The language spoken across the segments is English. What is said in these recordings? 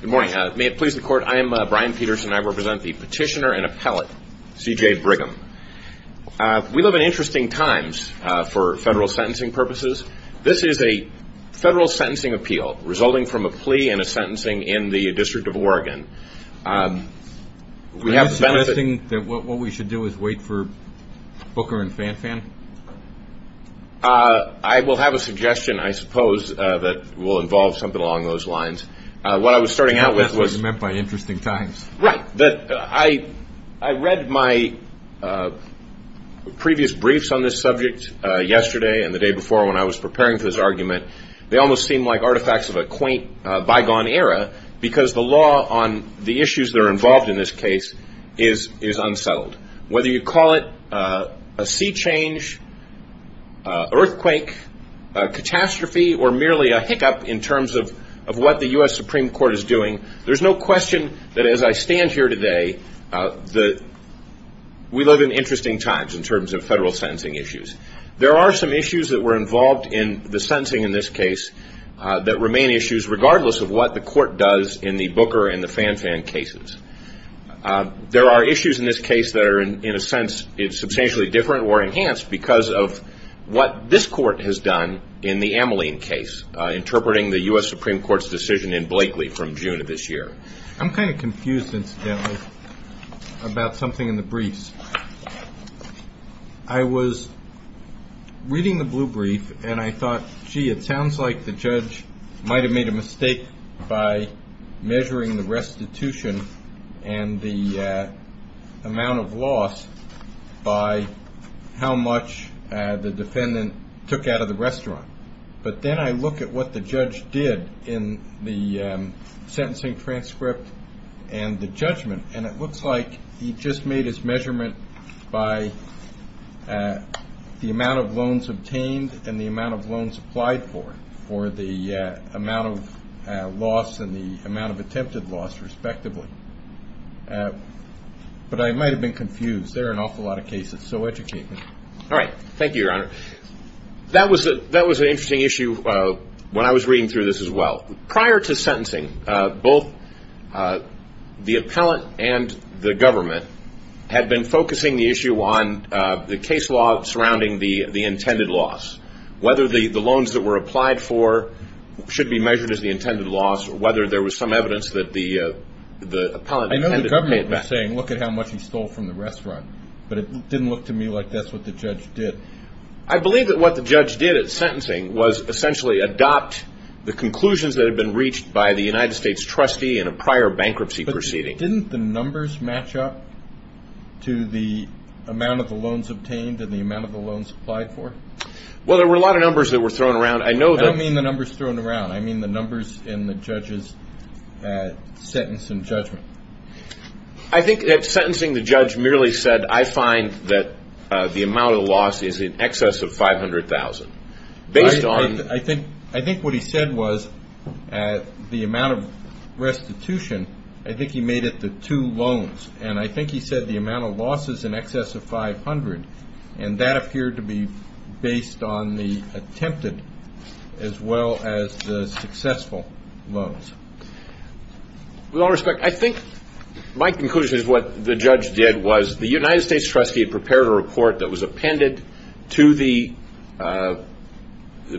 Good morning. May it please the court, I am Brian Peterson. I represent the petitioner and appellate C.J. Brigham. We live in interesting times for federal sentencing purposes. This is a federal sentencing appeal resulting from a plea and a sentencing in the District of Oregon. Is it suggesting that what we should do is wait for Booker and Fanfan? I will have a suggestion, I suppose, that will involve something along those lines. What I was starting out with was... That was meant by interesting times. Right. I read my previous briefs on this subject yesterday and the day before when I was preparing for this argument. They almost seem like artifacts of a quaint bygone era because the law on the issues that are involved in this case is unsettled. Whether you call it a sea change, earthquake, catastrophe, or merely a hiccup in terms of what the U.S. Supreme Court is doing, there is no question that as I stand here today, we live in interesting times in terms of federal sentencing issues. There are some issues that were involved in the sentencing in this case that remain issues regardless of what the court does in the Booker and Fanfan cases. There are issues in this case that are, in a sense, substantially different or enhanced because of what this court has done in the Ameline case, interpreting the U.S. Supreme Court's decision in Blakely from June of this year. I'm kind of confused, incidentally, about something in the briefs. I was reading the blue brief and I thought, gee, it sounds like the judge might have made a mistake by measuring the restitution and the amount of loss by how much the defendant took out of the restaurant. But then I look at what the judge did in the sentencing transcript and the judgment, and it looks like he just made his measurement by the amount of loans obtained and the amount of loans applied for or the amount of loss and the amount of attempted loss, respectively. But I might have been confused. There are an awful lot of cases, so educate me. All right. Thank you, Your Honor. That was an interesting issue when I was reading through this as well. Prior to sentencing, both the appellant and the government had been focusing the issue on the case law surrounding the intended loss, whether the loans that were applied for should be measured as the intended loss or whether there was some evidence that the appellant intended to pay it back. I know the government was saying, look at how much he stole from the restaurant, but it didn't look to me like that's what the judge did. I believe that what the judge did at sentencing was essentially adopt the conclusions that had been reached by the United States trustee in a prior bankruptcy proceeding. But didn't the numbers match up to the amount of the loans obtained and the amount of the loans applied for? Well, there were a lot of numbers that were thrown around. I don't mean the numbers thrown around. I think at sentencing the judge merely said, I find that the amount of loss is in excess of $500,000. I think what he said was the amount of restitution, I think he made it the two loans, and I think he said the amount of loss is in excess of $500,000, and that appeared to be based on the attempted as well as the successful loans. With all respect, I think my conclusion is what the judge did was the United States trustee had prepared a report that was appended to the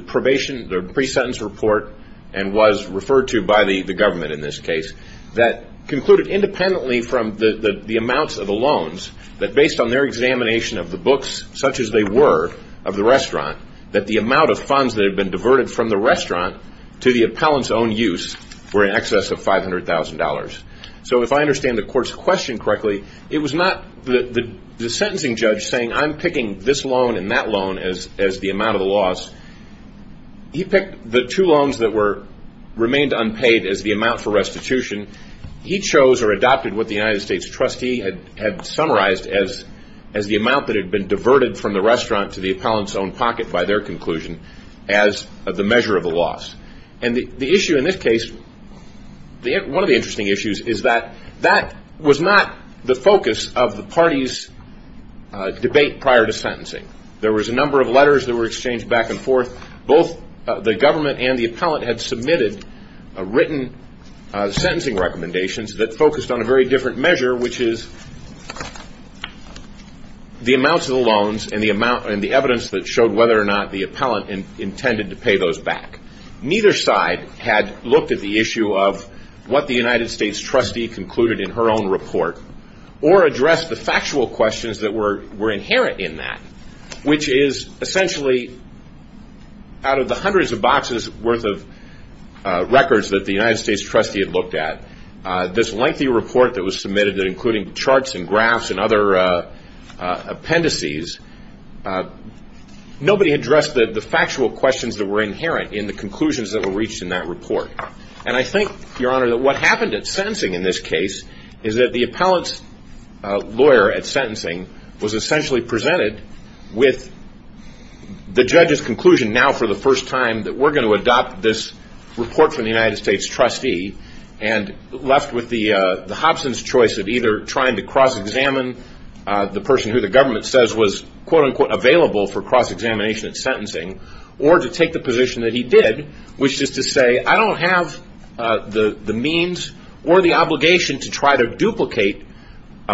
pre-sentence report and was referred to by the government in this case that concluded independently from the amounts of the loans that based on their examination of the books, such as they were, of the restaurant, that the amount of funds that had been diverted from the restaurant to the appellant's own use were in excess of $500,000. So if I understand the court's question correctly, it was not the sentencing judge saying, I'm picking this loan and that loan as the amount of the loss. He picked the two loans that remained unpaid as the amount for restitution. He chose or adopted what the United States trustee had summarized as the amount that had been diverted from the restaurant to the appellant's own pocket by their conclusion as the measure of the loss. And the issue in this case, one of the interesting issues is that that was not the focus of the party's debate prior to sentencing. There was a number of letters that were exchanged back and forth. Both the government and the appellant had submitted written sentencing recommendations that focused on a very different measure, which is the amounts of the loans and the evidence that showed whether or not the appellant intended to pay those back. Neither side had looked at the issue of what the United States trustee concluded in her own report or addressed the factual questions that were inherent in that, which is essentially out of the hundreds of boxes worth of records that the United States trustee had looked at, this lengthy report that was submitted that included charts and graphs and other appendices. Nobody addressed the factual questions that were inherent in the conclusions that were reached in that report. And I think, Your Honor, that what happened at sentencing in this case is that the appellant's lawyer at sentencing was essentially presented with the judge's conclusion now for the first time that we're going to adopt this report from the United States trustee and left with the Hobson's choice of either trying to cross-examine the person who the government says was quote-unquote available for cross-examination at sentencing or to take the position that he did, which is to say I don't have the means or the obligation to try to duplicate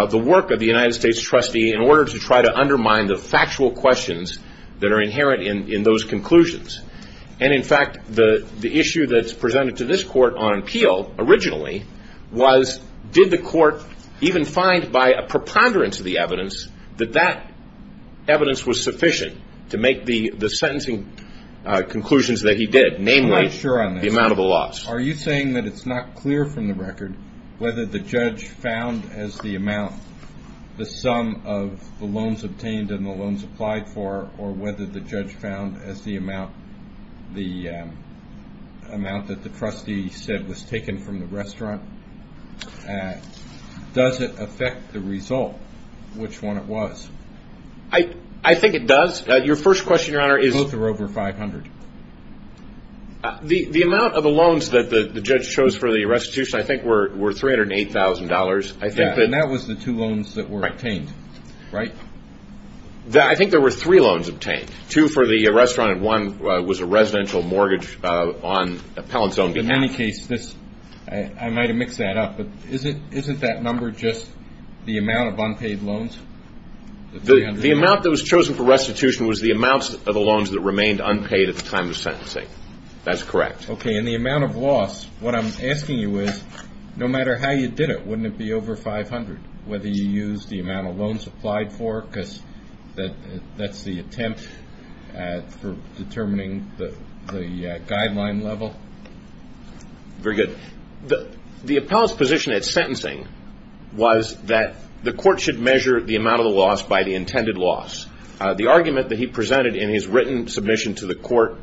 the work of the United States trustee in order to try to undermine the factual questions that are inherent in those conclusions. And, in fact, the issue that's presented to this court on appeal originally was did the court even find by a preponderance of the evidence that that evidence was sufficient to make the sentencing conclusions that he did, namely the amount of the loss. Are you saying that it's not clear from the record whether the judge found as the amount the sum of the loans obtained and the loans applied for or whether the judge found as the amount that the trustee said was taken from the restaurant? Does it affect the result which one it was? I think it does. Your first question, Your Honor, is. Both are over 500. The amount of the loans that the judge chose for the restitution I think were $308,000. And that was the two loans that were obtained, right? I think there were three loans obtained, two for the restaurant and one was a residential mortgage on appellant's own behalf. In any case, I might have mixed that up, but isn't that number just the amount of unpaid loans? The amount that was chosen for restitution was the amounts of the loans that remained unpaid at the time of sentencing. That's correct. Okay. And the amount of loss, what I'm asking you is no matter how you did it, wouldn't it be over 500, whether you used the amount of loans applied for because that's the attempt for determining the guideline level? Very good. The appellant's position at sentencing was that the court should measure the amount of the loss by the intended loss. The argument that he presented in his written submission to the court,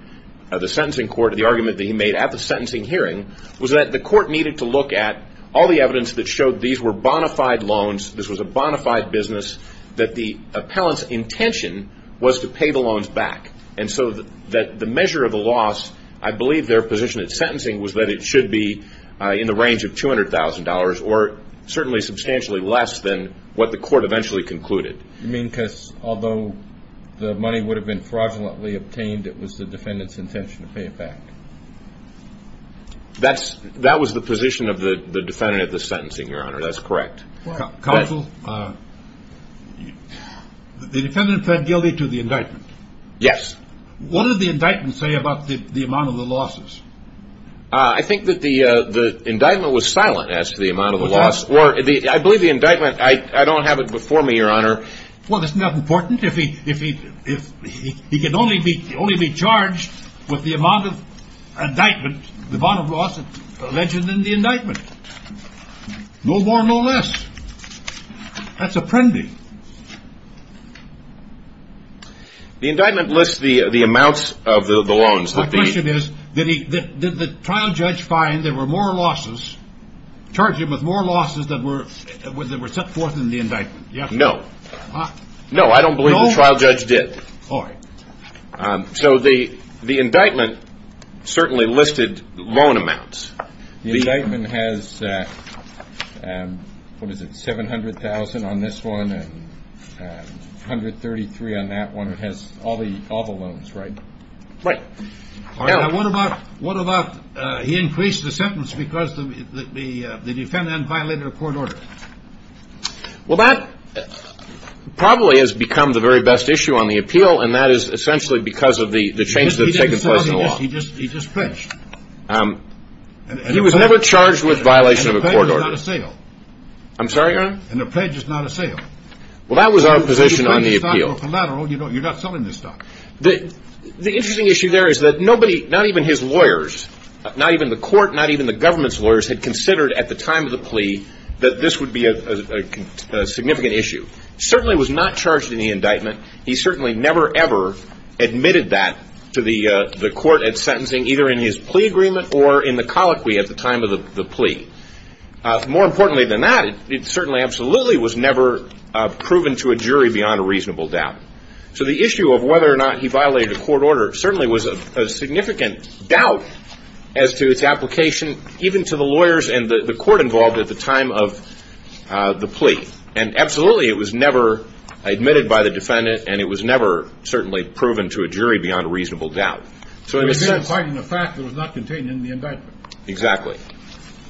the sentencing court, the argument that he made at the sentencing hearing was that the court needed to look at all the evidence that showed these were bona fide loans, this was a bona fide business, that the appellant's intention was to pay the loans back. And so the measure of the loss, I believe their position at sentencing was that it should be in the range of $200,000 or certainly substantially less than what the court eventually concluded. You mean because although the money would have been fraudulently obtained, it was the defendant's intention to pay it back? That was the position of the defendant at the sentencing, Your Honor. That's correct. Counsel, the defendant pled guilty to the indictment. Yes. What did the indictment say about the amount of the losses? I think that the indictment was silent as to the amount of the loss. I believe the indictment, I don't have it before me, Your Honor. Well, isn't that important? If he could only be charged with the amount of loss mentioned in the indictment. No more, no less. That's apprending. The indictment lists the amounts of the loans. My question is, did the trial judge find there were more losses, charged him with more losses than were set forth in the indictment? No. No, I don't believe the trial judge did. All right. So the indictment certainly listed loan amounts. The indictment has, what is it, $700,000 on this one and $133,000 on that one. It has all the loans, right? Right. All right. What about he increased the sentence because the defendant violated a court order? Well, that probably has become the very best issue on the appeal, and that is essentially because of the changes that have taken place in the law. He just pledged. He was never charged with violation of a court order. And a pledge is not a sale. I'm sorry, Your Honor? And a pledge is not a sale. Well, that was our position on the appeal. You pledge a stock or collateral, you're not selling the stock. The interesting issue there is that nobody, not even his lawyers, not even the court, not even the government's lawyers, had considered at the time of the plea that this would be a significant issue. Certainly was not charged in the indictment. He certainly never, ever admitted that to the court at sentencing, either in his plea agreement or in the colloquy at the time of the plea. More importantly than that, it certainly absolutely was never proven to a jury beyond a reasonable doubt. So the issue of whether or not he violated a court order certainly was a significant doubt as to its application, even to the lawyers and the court involved at the time of the plea. And absolutely, it was never admitted by the defendant, and it was never certainly proven to a jury beyond a reasonable doubt. So in a sense... It was not included in the fact that it was not contained in the indictment. Exactly.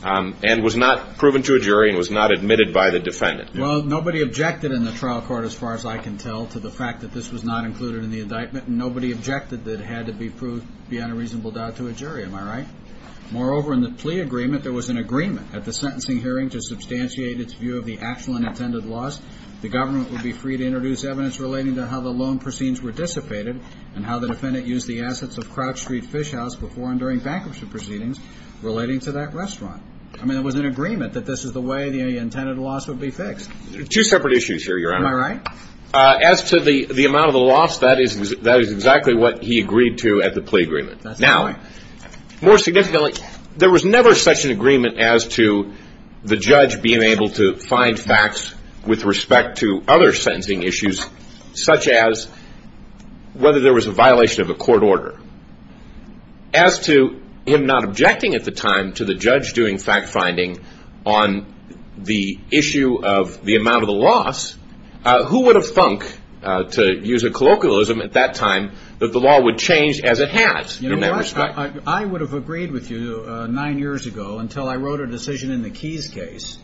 And was not proven to a jury and was not admitted by the defendant. Well, nobody objected in the trial court, as far as I can tell, to the fact that this was not included in the indictment, and nobody objected that it had to be proved beyond a reasonable doubt to a jury. Am I right? Moreover, in the plea agreement, there was an agreement at the sentencing hearing to substantiate its view of the actual and intended loss. The government would be free to introduce evidence relating to how the loan proceeds were dissipated and how the defendant used the assets of Crouch Street Fish House before and during bankruptcy proceedings relating to that restaurant. I mean, there was an agreement that this is the way the intended loss would be fixed. Two separate issues here, Your Honor. Am I right? As to the amount of the loss, that is exactly what he agreed to at the plea agreement. That's right. More significantly, there was never such an agreement as to the judge being able to find facts with respect to other sentencing issues, such as whether there was a violation of a court order. As to him not objecting at the time to the judge doing fact-finding on the issue of the amount of the loss, who would have thunk, to use a colloquialism at that time, that the law would change as it has in that respect? I would have agreed with you nine years ago until I wrote a decision in the Keys case,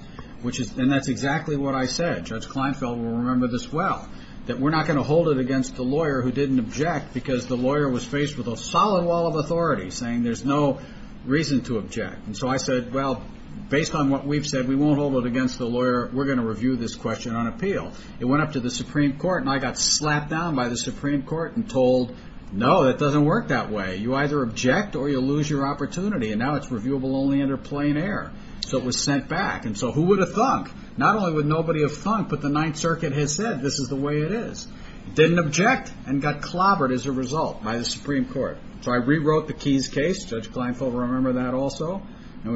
and that's exactly what I said. Judge Kleinfeld will remember this well, that we're not going to hold it against the lawyer who didn't object because the lawyer was faced with a solid wall of authority saying there's no reason to object. And so I said, well, based on what we've said, we won't hold it against the lawyer. We're going to review this question on appeal. It went up to the Supreme Court, and I got slapped down by the Supreme Court and told, no, it doesn't work that way. You either object or you lose your opportunity, and now it's reviewable only under plain error. So it was sent back. And so who would have thunk? Not only would nobody have thunk, but the Ninth Circuit has said this is the way it is. Didn't object and got clobbered as a result by the Supreme Court. So I rewrote the Keys case. Judge Kleinfeld will remember that also. And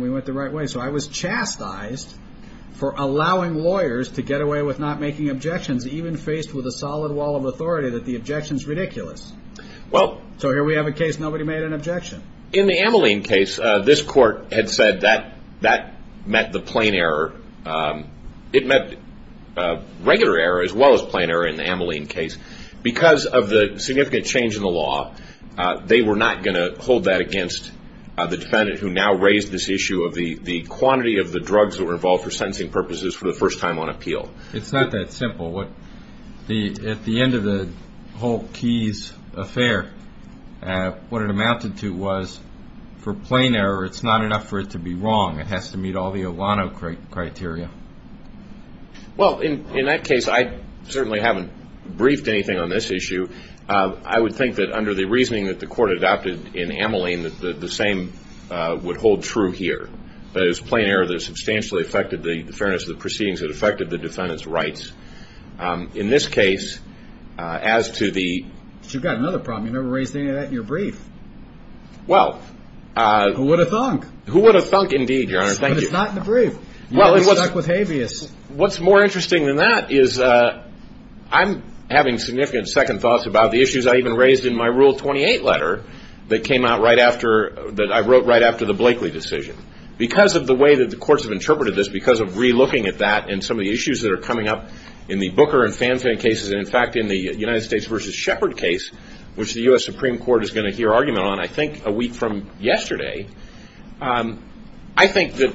we went the right way. So I was chastised for allowing lawyers to get away with not making objections, even faced with a solid wall of authority that the objection is ridiculous. So here we have a case nobody made an objection. In the Ameline case, this court had said that that met the plain error. It met regular error as well as plain error in the Ameline case. Because of the significant change in the law, they were not going to hold that against the defendant, who now raised this issue of the quantity of the drugs that were involved for sentencing purposes for the first time on appeal. It's not that simple. At the end of the whole Keys affair, what it amounted to was for plain error, it's not enough for it to be wrong. It has to meet all the Olano criteria. Well, in that case, I certainly haven't briefed anything on this issue. I would think that under the reasoning that the court adopted in Ameline, the same would hold true here. That is, plain error that substantially affected the fairness of the proceedings and affected the defendant's rights. In this case, as to the – But you've got another problem. You never raised any of that in your brief. Well – Who would have thunk? Who would have thunk indeed, Your Honor. Thank you. But it's not in the brief. Well, it's – You're stuck with habeas. What's more interesting than that is I'm having significant second thoughts about the issues I even raised in my Rule 28 letter that came out right after – that I wrote right after the Blakeley decision. Because of the way that the courts have interpreted this, because of re-looking at that and some of the issues that are coming up in the Booker and Fanfin cases, and in fact in the United States v. Shepard case, which the U.S. Supreme Court is going to hear argument on, I think a week from yesterday, I think that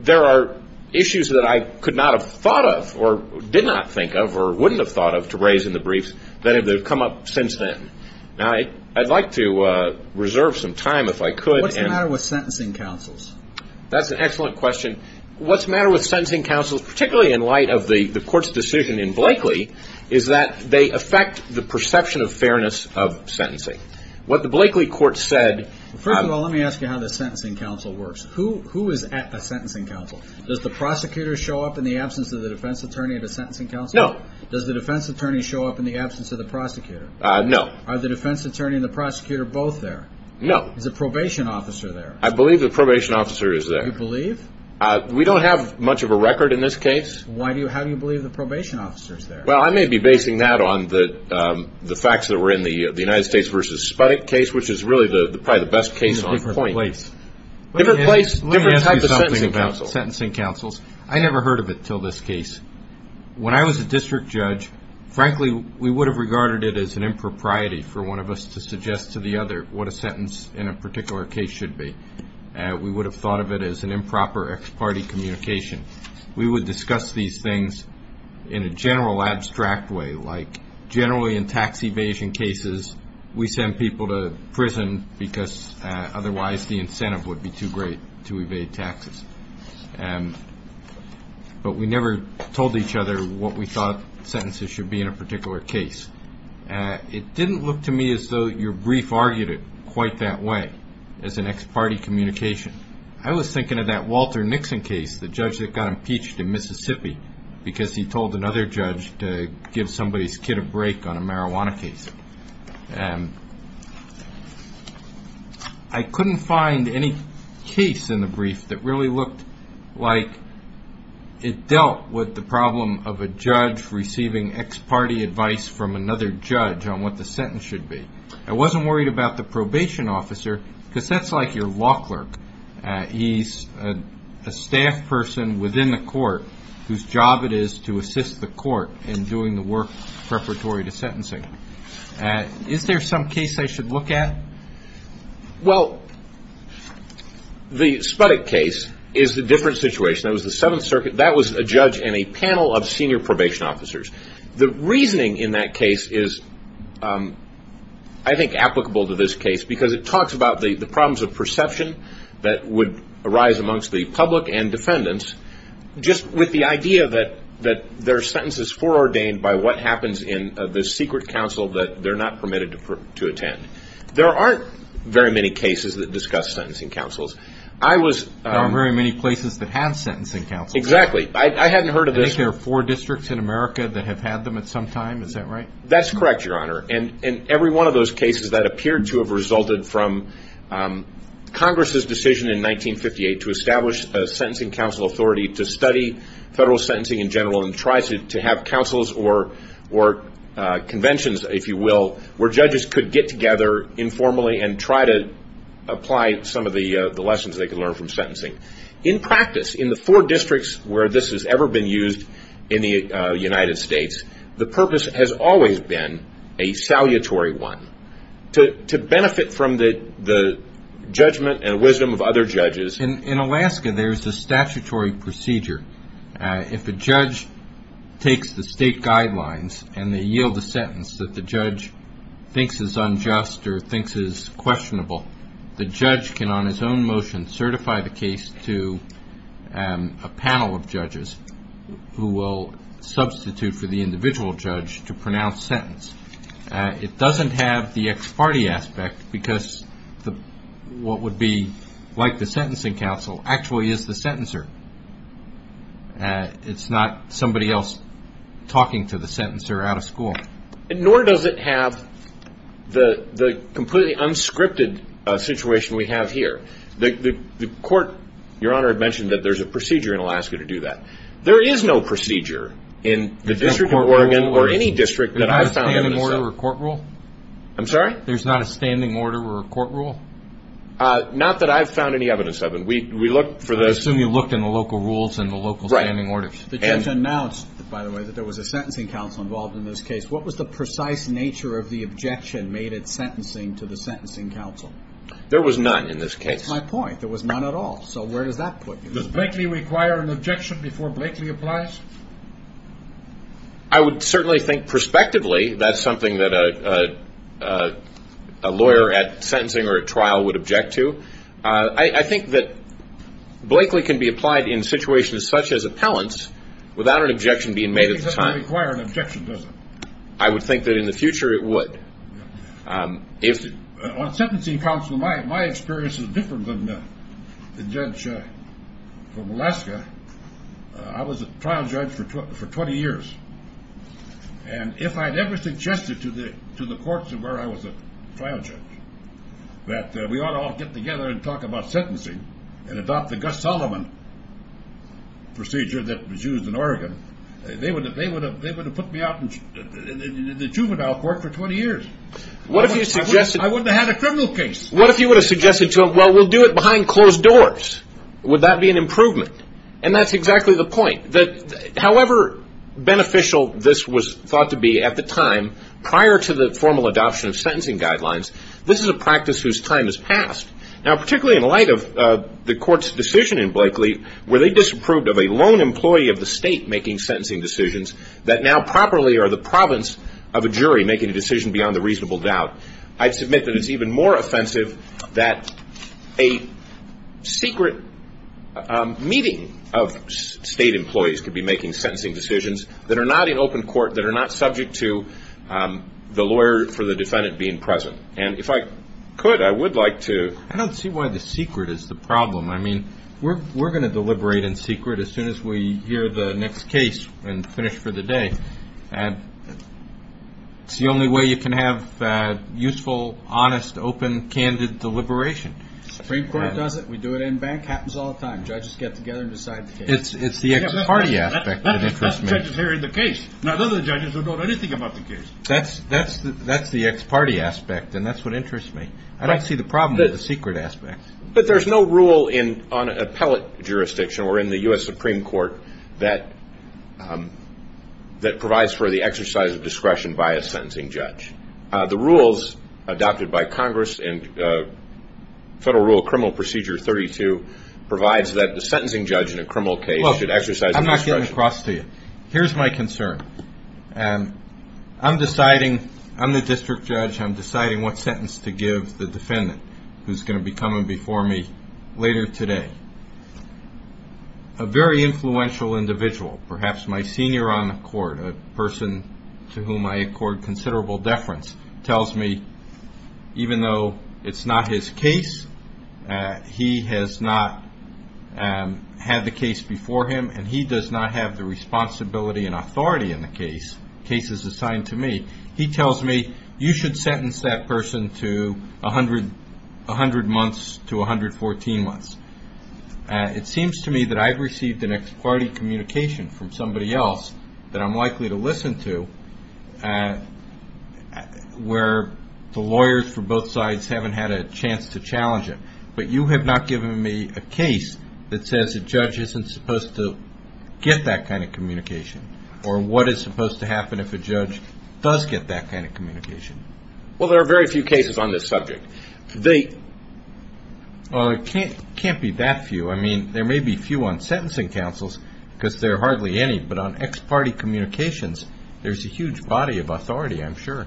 there are issues that I could not have thought of or did not think of or wouldn't have thought of to raise in the briefs that have come up since then. Now, I'd like to reserve some time if I could. What's the matter with sentencing counsels? That's an excellent question. What's the matter with sentencing counsels, particularly in light of the court's decision in Blakeley, is that they affect the perception of fairness of sentencing. What the Blakeley court said – First of all, let me ask you how the sentencing counsel works. Who is at the sentencing counsel? Does the prosecutor show up in the absence of the defense attorney at the sentencing counsel? No. Does the defense attorney show up in the absence of the prosecutor? No. Are the defense attorney and the prosecutor both there? No. Is the probation officer there? I believe the probation officer is there. You believe? We don't have much of a record in this case. How do you believe the probation officer is there? Well, I may be basing that on the facts that were in the United States versus Sputnik case, which is really probably the best case on point. In a different place. Different place, different type of sentencing counsel. Let me ask you something about sentencing counsels. I never heard of it until this case. When I was a district judge, frankly, we would have regarded it as an impropriety for one of us to suggest to the other what a sentence in a particular case should be. We would have thought of it as an improper ex parte communication. We would discuss these things in a general abstract way, like generally in tax evasion cases we send people to prison because otherwise the incentive would be too great to evade taxes. But we never told each other what we thought sentences should be in a particular case. It didn't look to me as though your brief argued it quite that way as an ex parte communication. I was thinking of that Walter Nixon case, the judge that got impeached in Mississippi, because he told another judge to give somebody's kid a break on a marijuana case. I couldn't find any case in the brief that really looked like it dealt with the problem of a judge receiving ex parte advice from another judge on what the sentence should be. I wasn't worried about the probation officer because that's like your law clerk. He's a staff person within the court whose job it is to assist the court in doing the work preparatory to sentencing. Is there some case I should look at? Well, the Sputnik case is a different situation. That was the Seventh Circuit. That was a judge and a panel of senior probation officers. The reasoning in that case is I think applicable to this case because it talks about the problems of perception that would arise amongst the public and defendants just with the idea that there are sentences foreordained by what happens in the secret council that they're not permitted to attend. There aren't very many cases that discuss sentencing councils. There aren't very many places that have sentencing councils. Exactly. I hadn't heard of this. I think there are four districts in America that have had them at some time. Is that right? That's correct, Your Honor, and every one of those cases that appeared to have resulted from Congress' decision in 1958 to establish a sentencing council authority to study federal sentencing in general and try to have councils or conventions, if you will, where judges could get together informally and try to apply some of the lessons they could learn from sentencing. In practice, in the four districts where this has ever been used in the United States, the purpose has always been a salutary one, to benefit from the judgment and wisdom of other judges. In Alaska, there's a statutory procedure. If a judge takes the state guidelines and they yield a sentence that the judge thinks is unjust or thinks is questionable, the judge can, on his own motion, certify the case to a panel of judges who will substitute for the individual judge to pronounce sentence. It doesn't have the ex parte aspect because what would be like the sentencing council actually is the sentencer. It's not somebody else talking to the sentencer out of school. Nor does it have the completely unscripted situation we have here. The court, Your Honor, had mentioned that there's a procedure in Alaska to do that. There is no procedure in the District of Oregon or any district that I've found evidence of. There's not a standing order or a court rule? I'm sorry? There's not a standing order or a court rule? Not that I've found any evidence of. I assume you looked in the local rules and the local standing orders. The judge announced, by the way, that there was a sentencing council involved in this case. What was the precise nature of the objection made at sentencing to the sentencing council? There was none in this case. That's my point. There was none at all. So where does that put you? Does Blakely require an objection before Blakely applies? I would certainly think prospectively that's something that a lawyer at sentencing or at trial would object to. I think that Blakely can be applied in situations such as appellants without an objection being made at the time. It doesn't require an objection, does it? I would think that in the future it would. On sentencing council, my experience is different than the judge from Alaska. I was a trial judge for 20 years. And if I'd ever suggested to the courts where I was a trial judge that we ought to all get together and talk about sentencing and adopt the Gus Solomon procedure that was used in Oregon, they would have put me out in the juvenile court for 20 years. I wouldn't have had a criminal case. What if you would have suggested, well, we'll do it behind closed doors? Would that be an improvement? And that's exactly the point. However beneficial this was thought to be at the time prior to the formal adoption of sentencing guidelines, this is a practice whose time has passed. Now, particularly in light of the court's decision in Blakely where they disapproved of a lone employee of the state making sentencing decisions that now properly are the province of a jury making a decision beyond a reasonable doubt, I'd submit that it's even more offensive that a secret meeting of state employees could be making sentencing decisions that are not in open court, that are not subject to the lawyer for the defendant being present. And if I could, I would like to. I don't see why the secret is the problem. I mean, we're going to deliberate in secret as soon as we hear the next case and finish for the day. It's the only way you can have useful, honest, open, candid deliberation. The Supreme Court does it. We do it in bank. It happens all the time. Judges get together and decide the case. It's the ex-party aspect that interests me. That's the judges hearing the case. None of the judges will know anything about the case. That's the ex-party aspect, and that's what interests me. I don't see the problem with the secret aspect. But there's no rule on appellate jurisdiction or in the U.S. Supreme Court that provides for the exercise of discretion by a sentencing judge. The rules adopted by Congress in Federal Rule Criminal Procedure 32 provides that the sentencing judge in a criminal case should exercise a discretion. Look, I'm not getting across to you. Here's my concern. I'm deciding. I'm the district judge. I'm deciding what sentence to give the defendant who's going to be coming before me later today. A very influential individual, perhaps my senior on the court, a person to whom I accord considerable deference, tells me, even though it's not his case, he has not had the case before him, and he does not have the responsibility and authority in the case, cases assigned to me, he tells me, you should sentence that person to 100 months to 114 months. It seems to me that I've received an ex-party communication from somebody else that I'm likely to listen to where the lawyers for both sides haven't had a chance to challenge it. But you have not given me a case that says a judge isn't supposed to get that kind of communication or what is supposed to happen if a judge does get that kind of communication. Well, there are very few cases on this subject. Well, it can't be that few. I mean, there may be a few on sentencing counsels because there are hardly any. But on ex-party communications, there's a huge body of authority, I'm sure.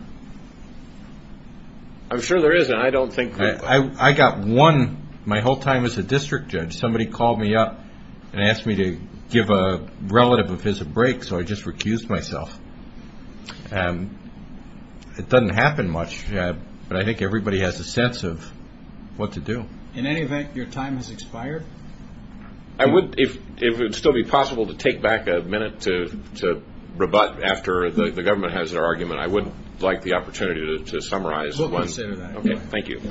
I'm sure there is, and I don't think that. I got one my whole time as a district judge. Somebody called me up and asked me to give a relative of his a break, so I just recused myself. It doesn't happen much, but I think everybody has a sense of what to do. In any event, your time has expired. If it would still be possible to take back a minute to rebut after the government has their argument, I would like the opportunity to summarize. We'll consider that. Okay, thank you.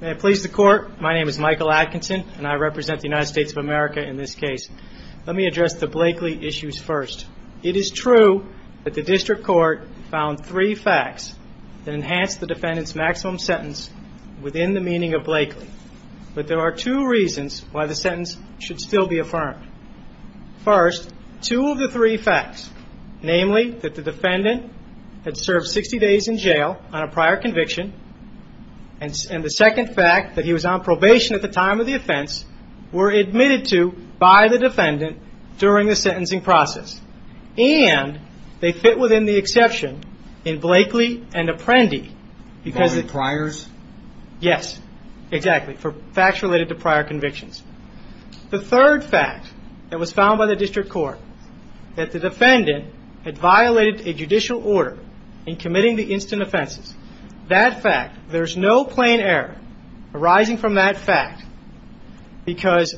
May I please the Court? My name is Michael Atkinson, and I represent the United States of America in this case. Let me address the Blakeley issues first. It is true that the district court found three facts that enhanced the defendant's maximum sentence within the meaning of Blakeley. But there are two reasons why the sentence should still be affirmed. First, two of the three facts, namely that the defendant had served 60 days in jail on a prior conviction, and the second fact that he was on probation at the time of the offense, were admitted to by the defendant during the sentencing process. And they fit within the exception in Blakeley and Apprendi. Are they priors? Yes, exactly, for facts related to prior convictions. The third fact that was found by the district court, that the defendant had violated a judicial order in committing the instant offenses, that fact, there's no plain error arising from that fact because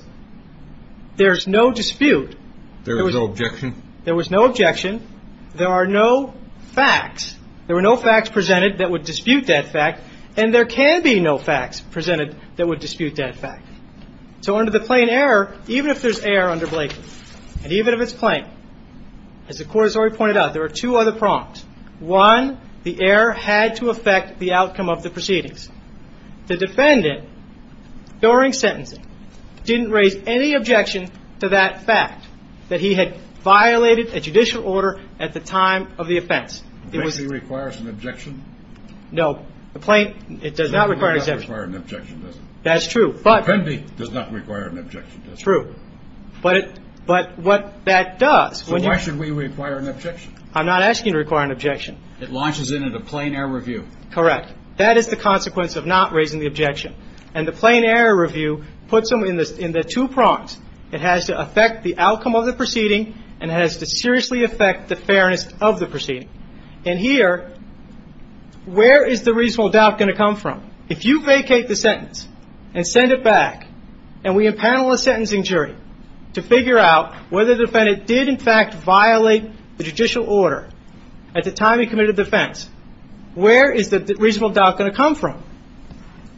there's no dispute. There was no objection? There was no objection. There are no facts. There were no facts presented that would dispute that fact, and there can be no facts presented that would dispute that fact. So under the plain error, even if there's error under Blakeley, and even if it's plain, as the court has already pointed out, there are two other prompts. One, the error had to affect the outcome of the proceedings. The defendant, during sentencing, didn't raise any objection to that fact, that he had violated a judicial order at the time of the offense. It requires an objection? No, it does not require an objection. It does not require an objection, does it? That's true, but. It does not require an objection, does it? True. But what that does, when you... So why should we require an objection? I'm not asking you to require an objection. It launches in at a plain error review. Correct. That is the consequence of not raising the objection. And the plain error review puts them in the two prompts. It has to affect the outcome of the proceeding, and it has to seriously affect the fairness of the proceeding. And here, where is the reasonable doubt going to come from? If you vacate the sentence and send it back, and we impanel a sentencing jury to figure out whether the defendant did, in fact, violate the judicial order at the time he committed the offense, where is the reasonable doubt going to come from?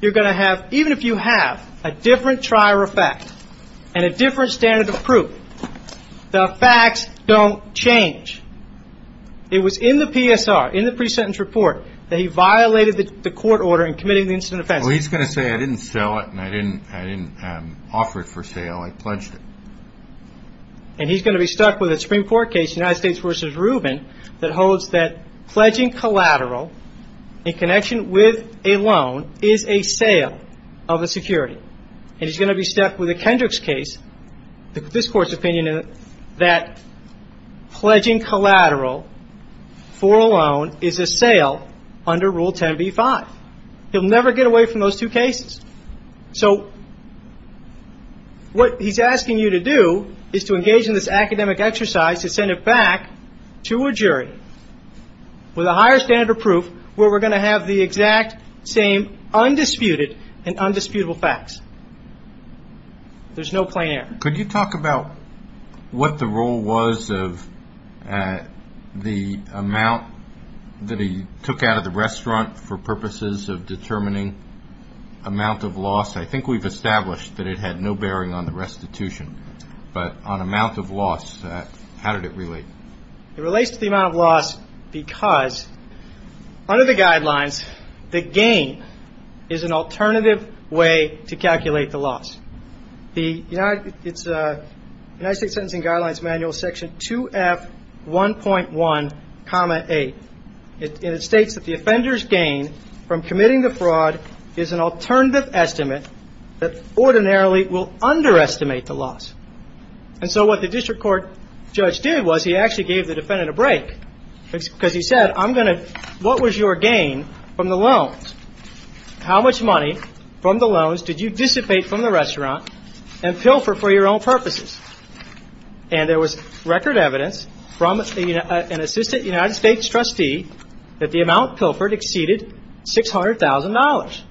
You're going to have, even if you have, a different trial or fact and a different standard of proof, the facts don't change. It was in the PSR, in the pre-sentence report, that he violated the court order in committing the incident offense. Well, he's going to say, I didn't sell it and I didn't offer it for sale, I pledged it. And he's going to be stuck with a Supreme Court case, United States v. Rubin, that holds that pledging collateral in connection with a loan is a sale of a security. And he's going to be stuck with a Kendrick's case, this Court's opinion, that pledging collateral for a loan is a sale under Rule 10b-5. He'll never get away from those two cases. So what he's asking you to do is to engage in this academic exercise to send it back to a jury with a higher standard of proof where we're going to have the exact same undisputed and undisputable facts. There's no plain error. Could you talk about what the role was of the amount that he took out of the restaurant for purposes of determining amount of loss? I think we've established that it had no bearing on the restitution. But on amount of loss, how did it relate? It relates to the amount of loss because under the guidelines, the gain is an alternative way to calculate the loss. The United States Sentencing Guidelines Manual, Section 2F1.1, 8. It states that the offender's gain from committing the fraud is an alternative estimate that ordinarily will underestimate the loss. And so what the district court judge did was he actually gave the defendant a break because he said, I'm going to – what was your gain from the loans? How much money from the loans did you dissipate from the restaurant and pilfer for your own purposes? And there was record evidence from an assistant United States trustee that the amount pilfered exceeded $600,000.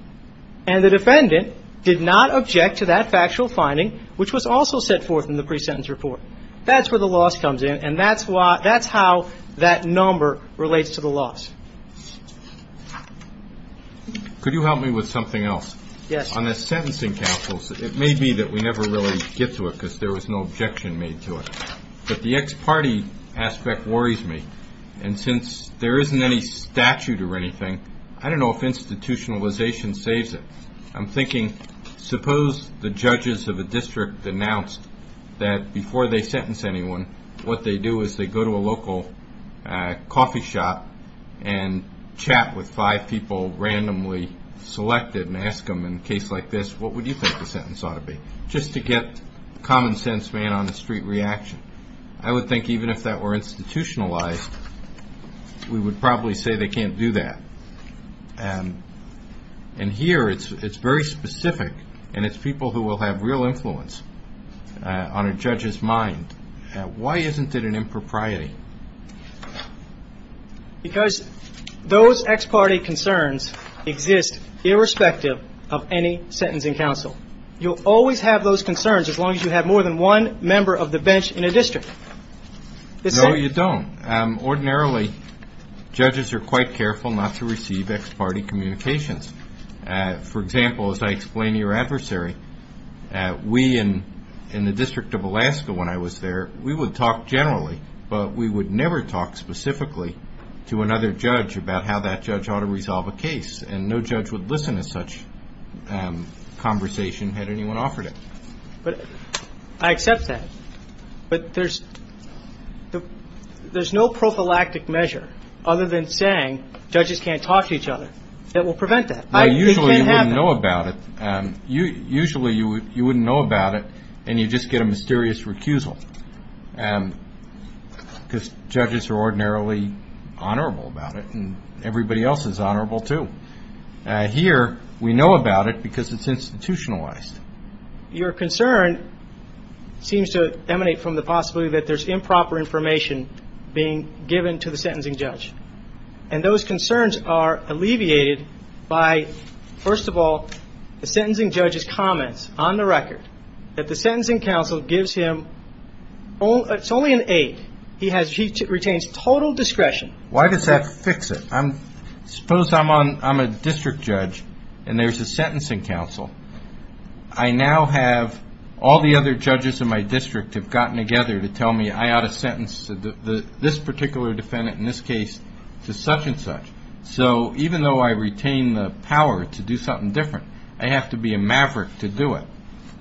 And the defendant did not object to that factual finding, which was also set forth in the pre-sentence report. That's where the loss comes in, and that's how that number relates to the loss. Could you help me with something else? Yes. On the sentencing councils, it may be that we never really get to it because there was no objection made to it. But the ex parte aspect worries me. And since there isn't any statute or anything, I don't know if institutionalization saves it. I'm thinking, suppose the judges of a district announced that before they sentence anyone, what they do is they go to a local coffee shop and chat with five people randomly selected and ask them in a case like this, what would you think the sentence ought to be? Just to get common sense man on the street reaction. I would think even if that were institutionalized, we would probably say they can't do that. And here it's very specific, and it's people who will have real influence on a judge's mind. Why isn't it an impropriety? Because those ex parte concerns exist irrespective of any sentencing council. You'll always have those concerns as long as you have more than one member of the bench in a district. No, you don't. Ordinarily, judges are quite careful not to receive ex parte communications. For example, as I explained to your adversary, we in the District of Alaska when I was there, we would talk generally, but we would never talk specifically to another judge about how that judge ought to resolve a case. And no judge would listen to such conversation had anyone offered it. I accept that. But there's no prophylactic measure other than saying judges can't talk to each other that will prevent that. Usually you wouldn't know about it. Usually you wouldn't know about it, and you just get a mysterious recusal. Because judges are ordinarily honorable about it, and everybody else is honorable too. Here we know about it because it's institutionalized. Your concern seems to emanate from the possibility that there's improper information being given to the sentencing judge. And those concerns are alleviated by, first of all, the sentencing judge's comments on the record, that the sentencing council gives him only an aide. He retains total discretion. Why does that fix it? Suppose I'm a district judge and there's a sentencing council. I now have all the other judges in my district have gotten together to tell me I ought to sentence this particular defendant, in this case, to such and such. So even though I retain the power to do something different, I have to be a maverick to do it.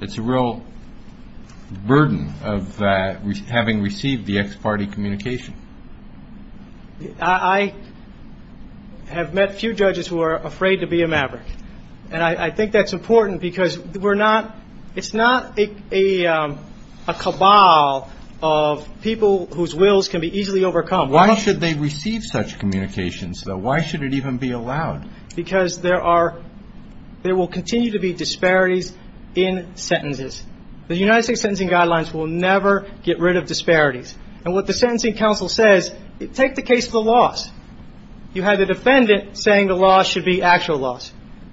It's a real burden of having received the ex parte communication. I have met a few judges who are afraid to be a maverick, and I think that's important because it's not a cabal of people whose wills can be easily overcome. Why should they receive such communications, though? Why should it even be allowed? Because there will continue to be disparities in sentences. The United States Sentencing Guidelines will never get rid of disparities. And what the sentencing council says, take the case of the loss. You had the defendant saying the loss should be actual loss.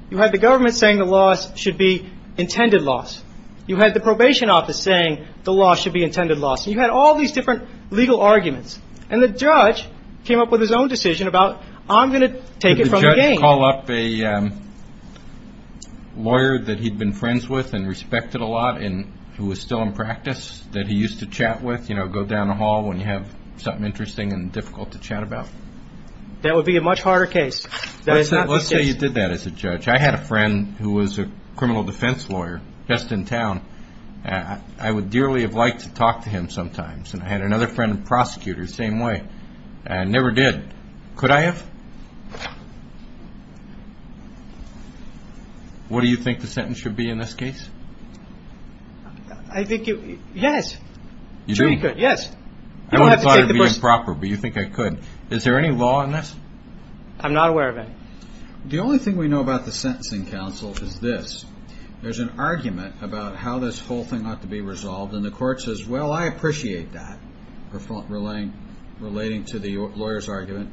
You had the government saying the loss should be intended loss. You had the probation office saying the loss should be intended loss. You had all these different legal arguments, and the judge came up with his own decision about, I'm going to take it from the game. Did the judge call up a lawyer that he'd been friends with and respected a lot and who was still in practice that he used to chat with, you know, go down the hall when you have something interesting and difficult to chat about? That would be a much harder case. Let's say you did that as a judge. I had a friend who was a criminal defense lawyer just in town. I would dearly have liked to talk to him sometimes. And I had another friend, a prosecutor, same way. I never did. Could I have? What do you think the sentence should be in this case? I think you, yes. You do? Yes. I would have thought it would be improper, but you think I could. Is there any law in this? I'm not aware of any. The only thing we know about the sentencing council is this. There's an argument about how this whole thing ought to be resolved, and the court says, well, I appreciate that, relating to the lawyer's argument.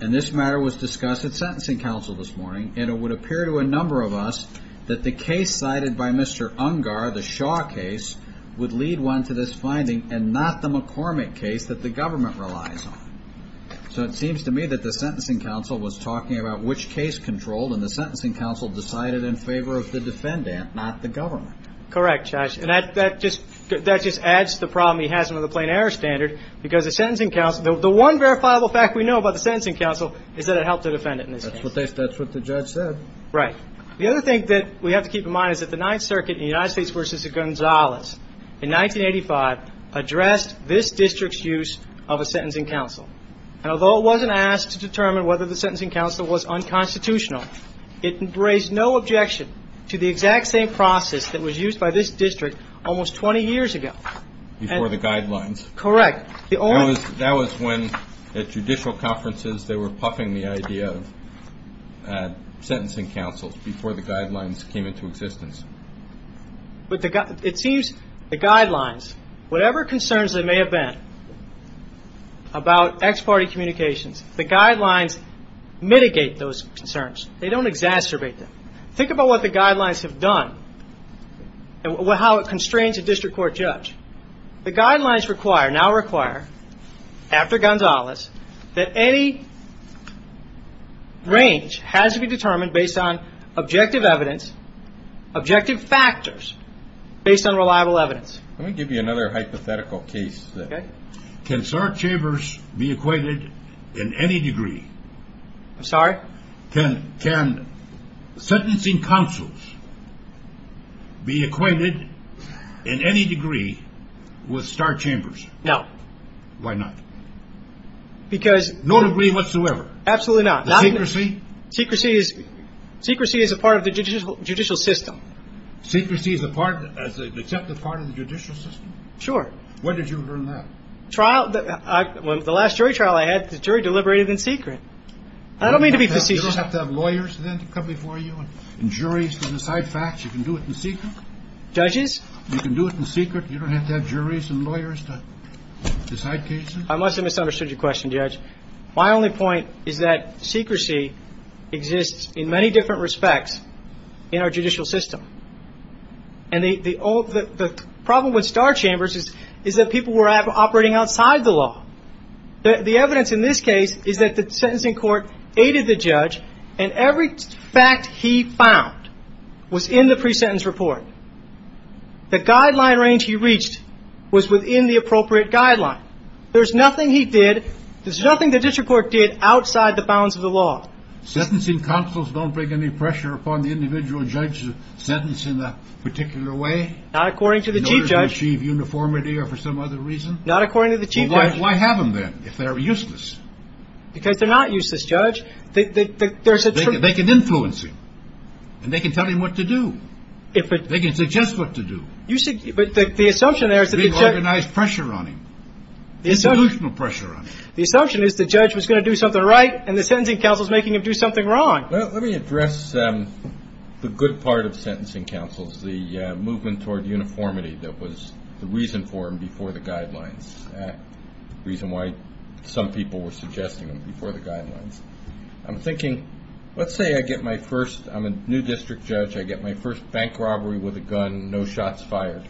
And this matter was discussed at sentencing council this morning, and it would appear to a number of us that the case cited by Mr. Ungar, the Shaw case, would lead one to this finding and not the McCormick case that the government relies on. So it seems to me that the sentencing council was talking about which case controlled, and the sentencing council decided in favor of the defendant, not the government. Correct, Josh. And that just adds to the problem he has with the plain error standard, because the sentencing council, the one verifiable fact we know about the sentencing council is that it helped the defendant in this case. That's what the judge said. Right. The other thing that we have to keep in mind is that the Ninth Circuit in the United States versus Gonzales in 1985 addressed this district's use of a sentencing council. And although it wasn't asked to determine whether the sentencing council was unconstitutional, it raised no objection to the exact same process that was used by this district almost 20 years ago. Before the guidelines. Correct. That was when at judicial conferences they were puffing the idea of sentencing councils before the guidelines came into existence. It seems the guidelines, whatever concerns there may have been about ex parte communications, the guidelines mitigate those concerns. They don't exacerbate them. Think about what the guidelines have done and how it constrains a district court judge. The guidelines require, now require, after Gonzales, that any range has to be determined based on objective evidence, objective factors, based on reliable evidence. Let me give you another hypothetical case. Okay. Can Sark Chambers be acquainted in any degree? I'm sorry? Can sentencing councils be acquainted in any degree with Sark Chambers? No. Why not? Because. No degree whatsoever? Absolutely not. The secrecy? Secrecy is a part of the judicial system. Secrecy is an accepted part of the judicial system? Sure. Where did you learn that? The last jury trial I had, the jury deliberated in secret. I don't mean to be facetious. You don't have to have lawyers then to come before you and juries to decide facts? You can do it in secret? Judges? You can do it in secret? You don't have to have juries and lawyers to decide cases? I must have misunderstood your question, Judge. My only point is that secrecy exists in many different respects in our judicial system. And the problem with Sark Chambers is that people were operating outside the law. The evidence in this case is that the sentencing court aided the judge and every fact he found was in the pre-sentence report. The guideline range he reached was within the appropriate guideline. There's nothing he did, there's nothing the district court did outside the bounds of the law. Sentencing councils don't bring any pressure upon the individual judge's sentence in a particular way? Not according to the chief judge. In order to achieve uniformity or for some other reason? Not according to the chief judge. Well, why have them then if they're useless? Because they're not useless, Judge. They can influence him, and they can tell him what to do. They can suggest what to do. But the assumption there is that the judge – Bring organized pressure on him, institutional pressure on him. The assumption is the judge was going to do something right, and the sentencing council is making him do something wrong. Let me address the good part of sentencing councils, the movement toward uniformity that was the reason for them before the guidelines. The reason why some people were suggesting them before the guidelines. I'm thinking, let's say I get my first – I'm a new district judge, I get my first bank robbery with a gun, no shots fired.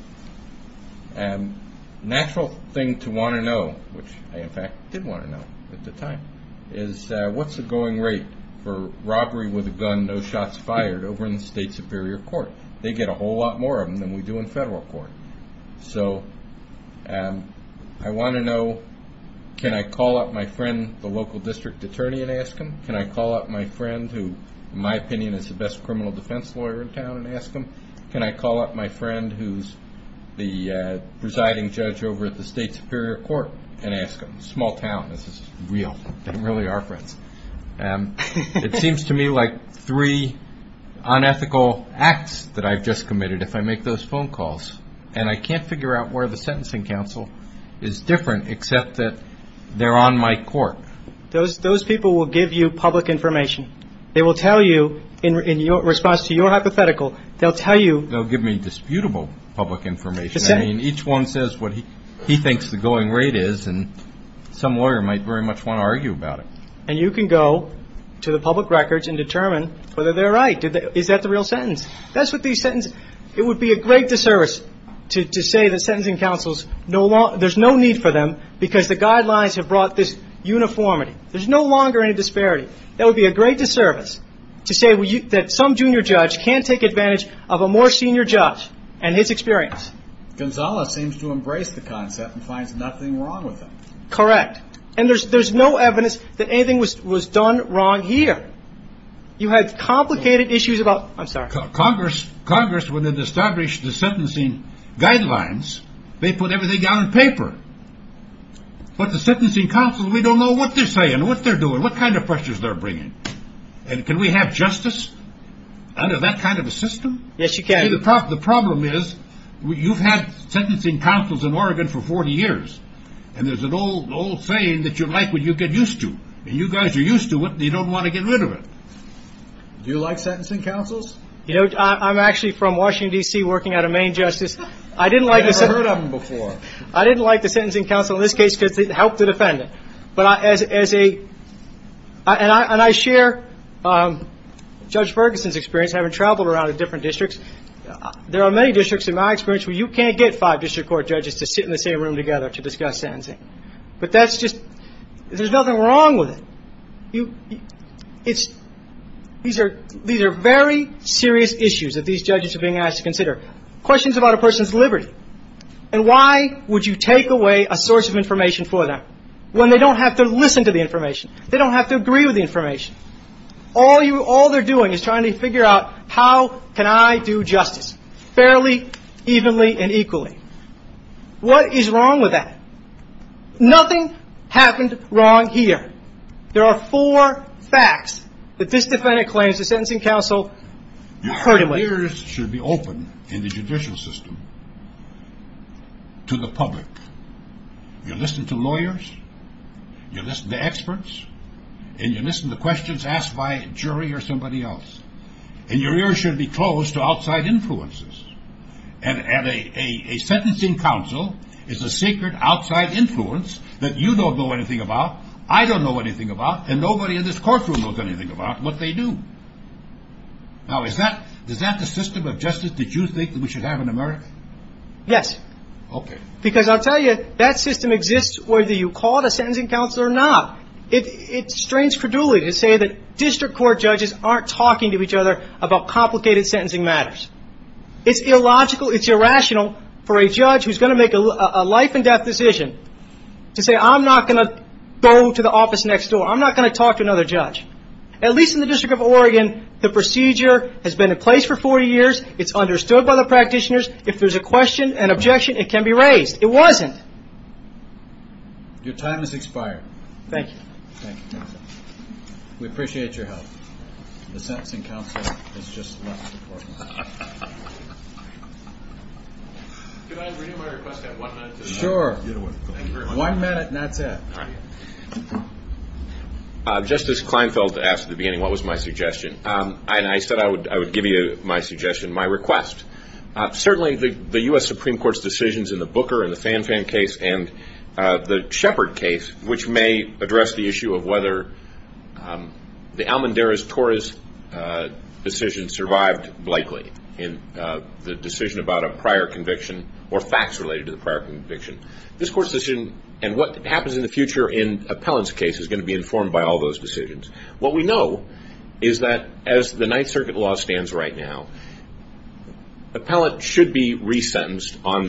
Natural thing to want to know, which I in fact did want to know at the time, is what's the going rate for robbery with a gun, no shots fired, over in the state superior court? They get a whole lot more of them than we do in federal court. So I want to know, can I call up my friend, the local district attorney and ask him? Can I call up my friend who, in my opinion, is the best criminal defense lawyer in town and ask him? Can I call up my friend who's the presiding judge over at the state superior court and ask him? Small town, this is real. They really are friends. It seems to me like three unethical acts that I've just committed if I make those phone calls, and I can't figure out where the sentencing council is different except that they're on my court. Those people will give you public information. They will tell you, in response to your hypothetical, they'll tell you. They'll give me disputable public information. I mean, each one says what he thinks the going rate is, and some lawyer might very much want to argue about it. And you can go to the public records and determine whether they're right. Is that the real sentence? That's what these sentences are. It would be a great disservice to say that sentencing councils, there's no need for them because the guidelines have brought this uniformity. There's no longer any disparity. That would be a great disservice to say that some junior judge can't take advantage of a more senior judge and his experience. Gonzales seems to embrace the concept and finds nothing wrong with it. Correct. And there's no evidence that anything was done wrong here. You had complicated issues about, I'm sorry. Congress, when it established the sentencing guidelines, they put everything down on paper. But the sentencing councils, we don't know what they're saying, what they're doing, what kind of pressures they're bringing. And can we have justice under that kind of a system? Yes, you can. See, the problem is you've had sentencing councils in Oregon for 40 years, and there's an old saying that you like what you get used to. And you guys are used to it, and you don't want to get rid of it. Do you like sentencing councils? You know, I'm actually from Washington, D.C., working out of Maine Justice. I've never heard of them before. I didn't like the sentencing council in this case because it helped the defendant. And I share Judge Ferguson's experience, having traveled around to different districts. There are many districts, in my experience, where you can't get five district court judges to sit in the same room together to discuss sentencing. But that's just, there's nothing wrong with it. These are very serious issues that these judges are being asked to consider. Questions about a person's liberty. And why would you take away a source of information for them when they don't have to listen to the information? They don't have to agree with the information. All they're doing is trying to figure out how can I do justice fairly, evenly, and equally. What is wrong with that? Nothing happened wrong here. There are four facts that this defendant claims the sentencing council hurt him with. Your ears should be open in the judicial system to the public. You listen to lawyers. You listen to experts. And you listen to questions asked by a jury or somebody else. And your ears should be closed to outside influences. And a sentencing council is a secret outside influence that you don't know anything about, I don't know anything about, and nobody in this courtroom knows anything about what they do. Now, is that the system of justice that you think we should have in America? Yes. Okay. Because I'll tell you, that system exists whether you call it a sentencing council or not. It strains credulity to say that district court judges aren't talking to each other about complicated sentencing matters. It's illogical, it's irrational for a judge who's going to make a life and death decision to say, I'm not going to go to the office next door. I'm not going to talk to another judge. At least in the District of Oregon, the procedure has been in place for 40 years. It's understood by the practitioners. If there's a question, an objection, it can be raised. It wasn't. Your time has expired. Thank you. Thank you. We appreciate your help. The sentencing council has just left the courtroom. Could I renew my request to have one minute to the end? Sure. One minute and that's it. All right. Justice Kleinfeld asked at the beginning what was my suggestion. And I said I would give you my suggestion, my request. Certainly the U.S. Supreme Court's decisions in the Booker and the Fanfan case and the Shepard case, which may address the issue of whether the Almendarez-Torres decision survived lightly, the decision about a prior conviction or facts related to the prior conviction. This court's decision and what happens in the future in Appellant's case is going to be informed by all those decisions. What we know is that as the Ninth Circuit law stands right now, Appellant should be resentenced on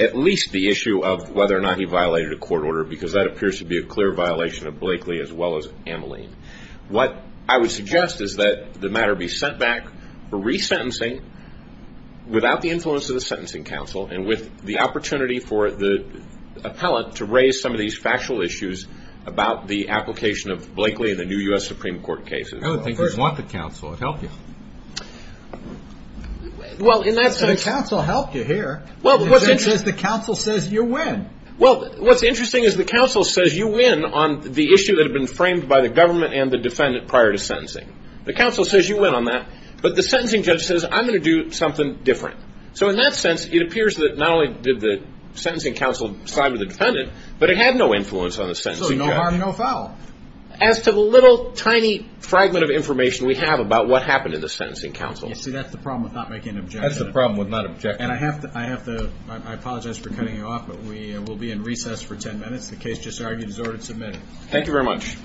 at least the issue of whether or not he violated a court order because that appears to be a clear violation of Blakely as well as Ameline. What I would suggest is that the matter be sent back for resentencing without the influence of the sentencing council and with the opportunity for the appellant to raise some of these factual issues about the application of Blakely in the new U.S. Supreme Court cases. I don't think you'd want the council. It would help you. Well, in that sense. The council helped you here. Well, what's interesting is the council says you win. Well, what's interesting is the council says you win on the issue that had been framed by the government and the defendant prior to sentencing. The council says you win on that. But the sentencing judge says I'm going to do something different. So in that sense, it appears that not only did the sentencing council side with the defendant, but it had no influence on the sentencing judge. So no harm, no foul. As to the little tiny fragment of information we have about what happened in the sentencing council. See, that's the problem with not making an objection. That's the problem with not objecting. And I have to apologize for cutting you off, but we will be in recess for ten minutes. The case just argued is ordered to submit. Thank you very much.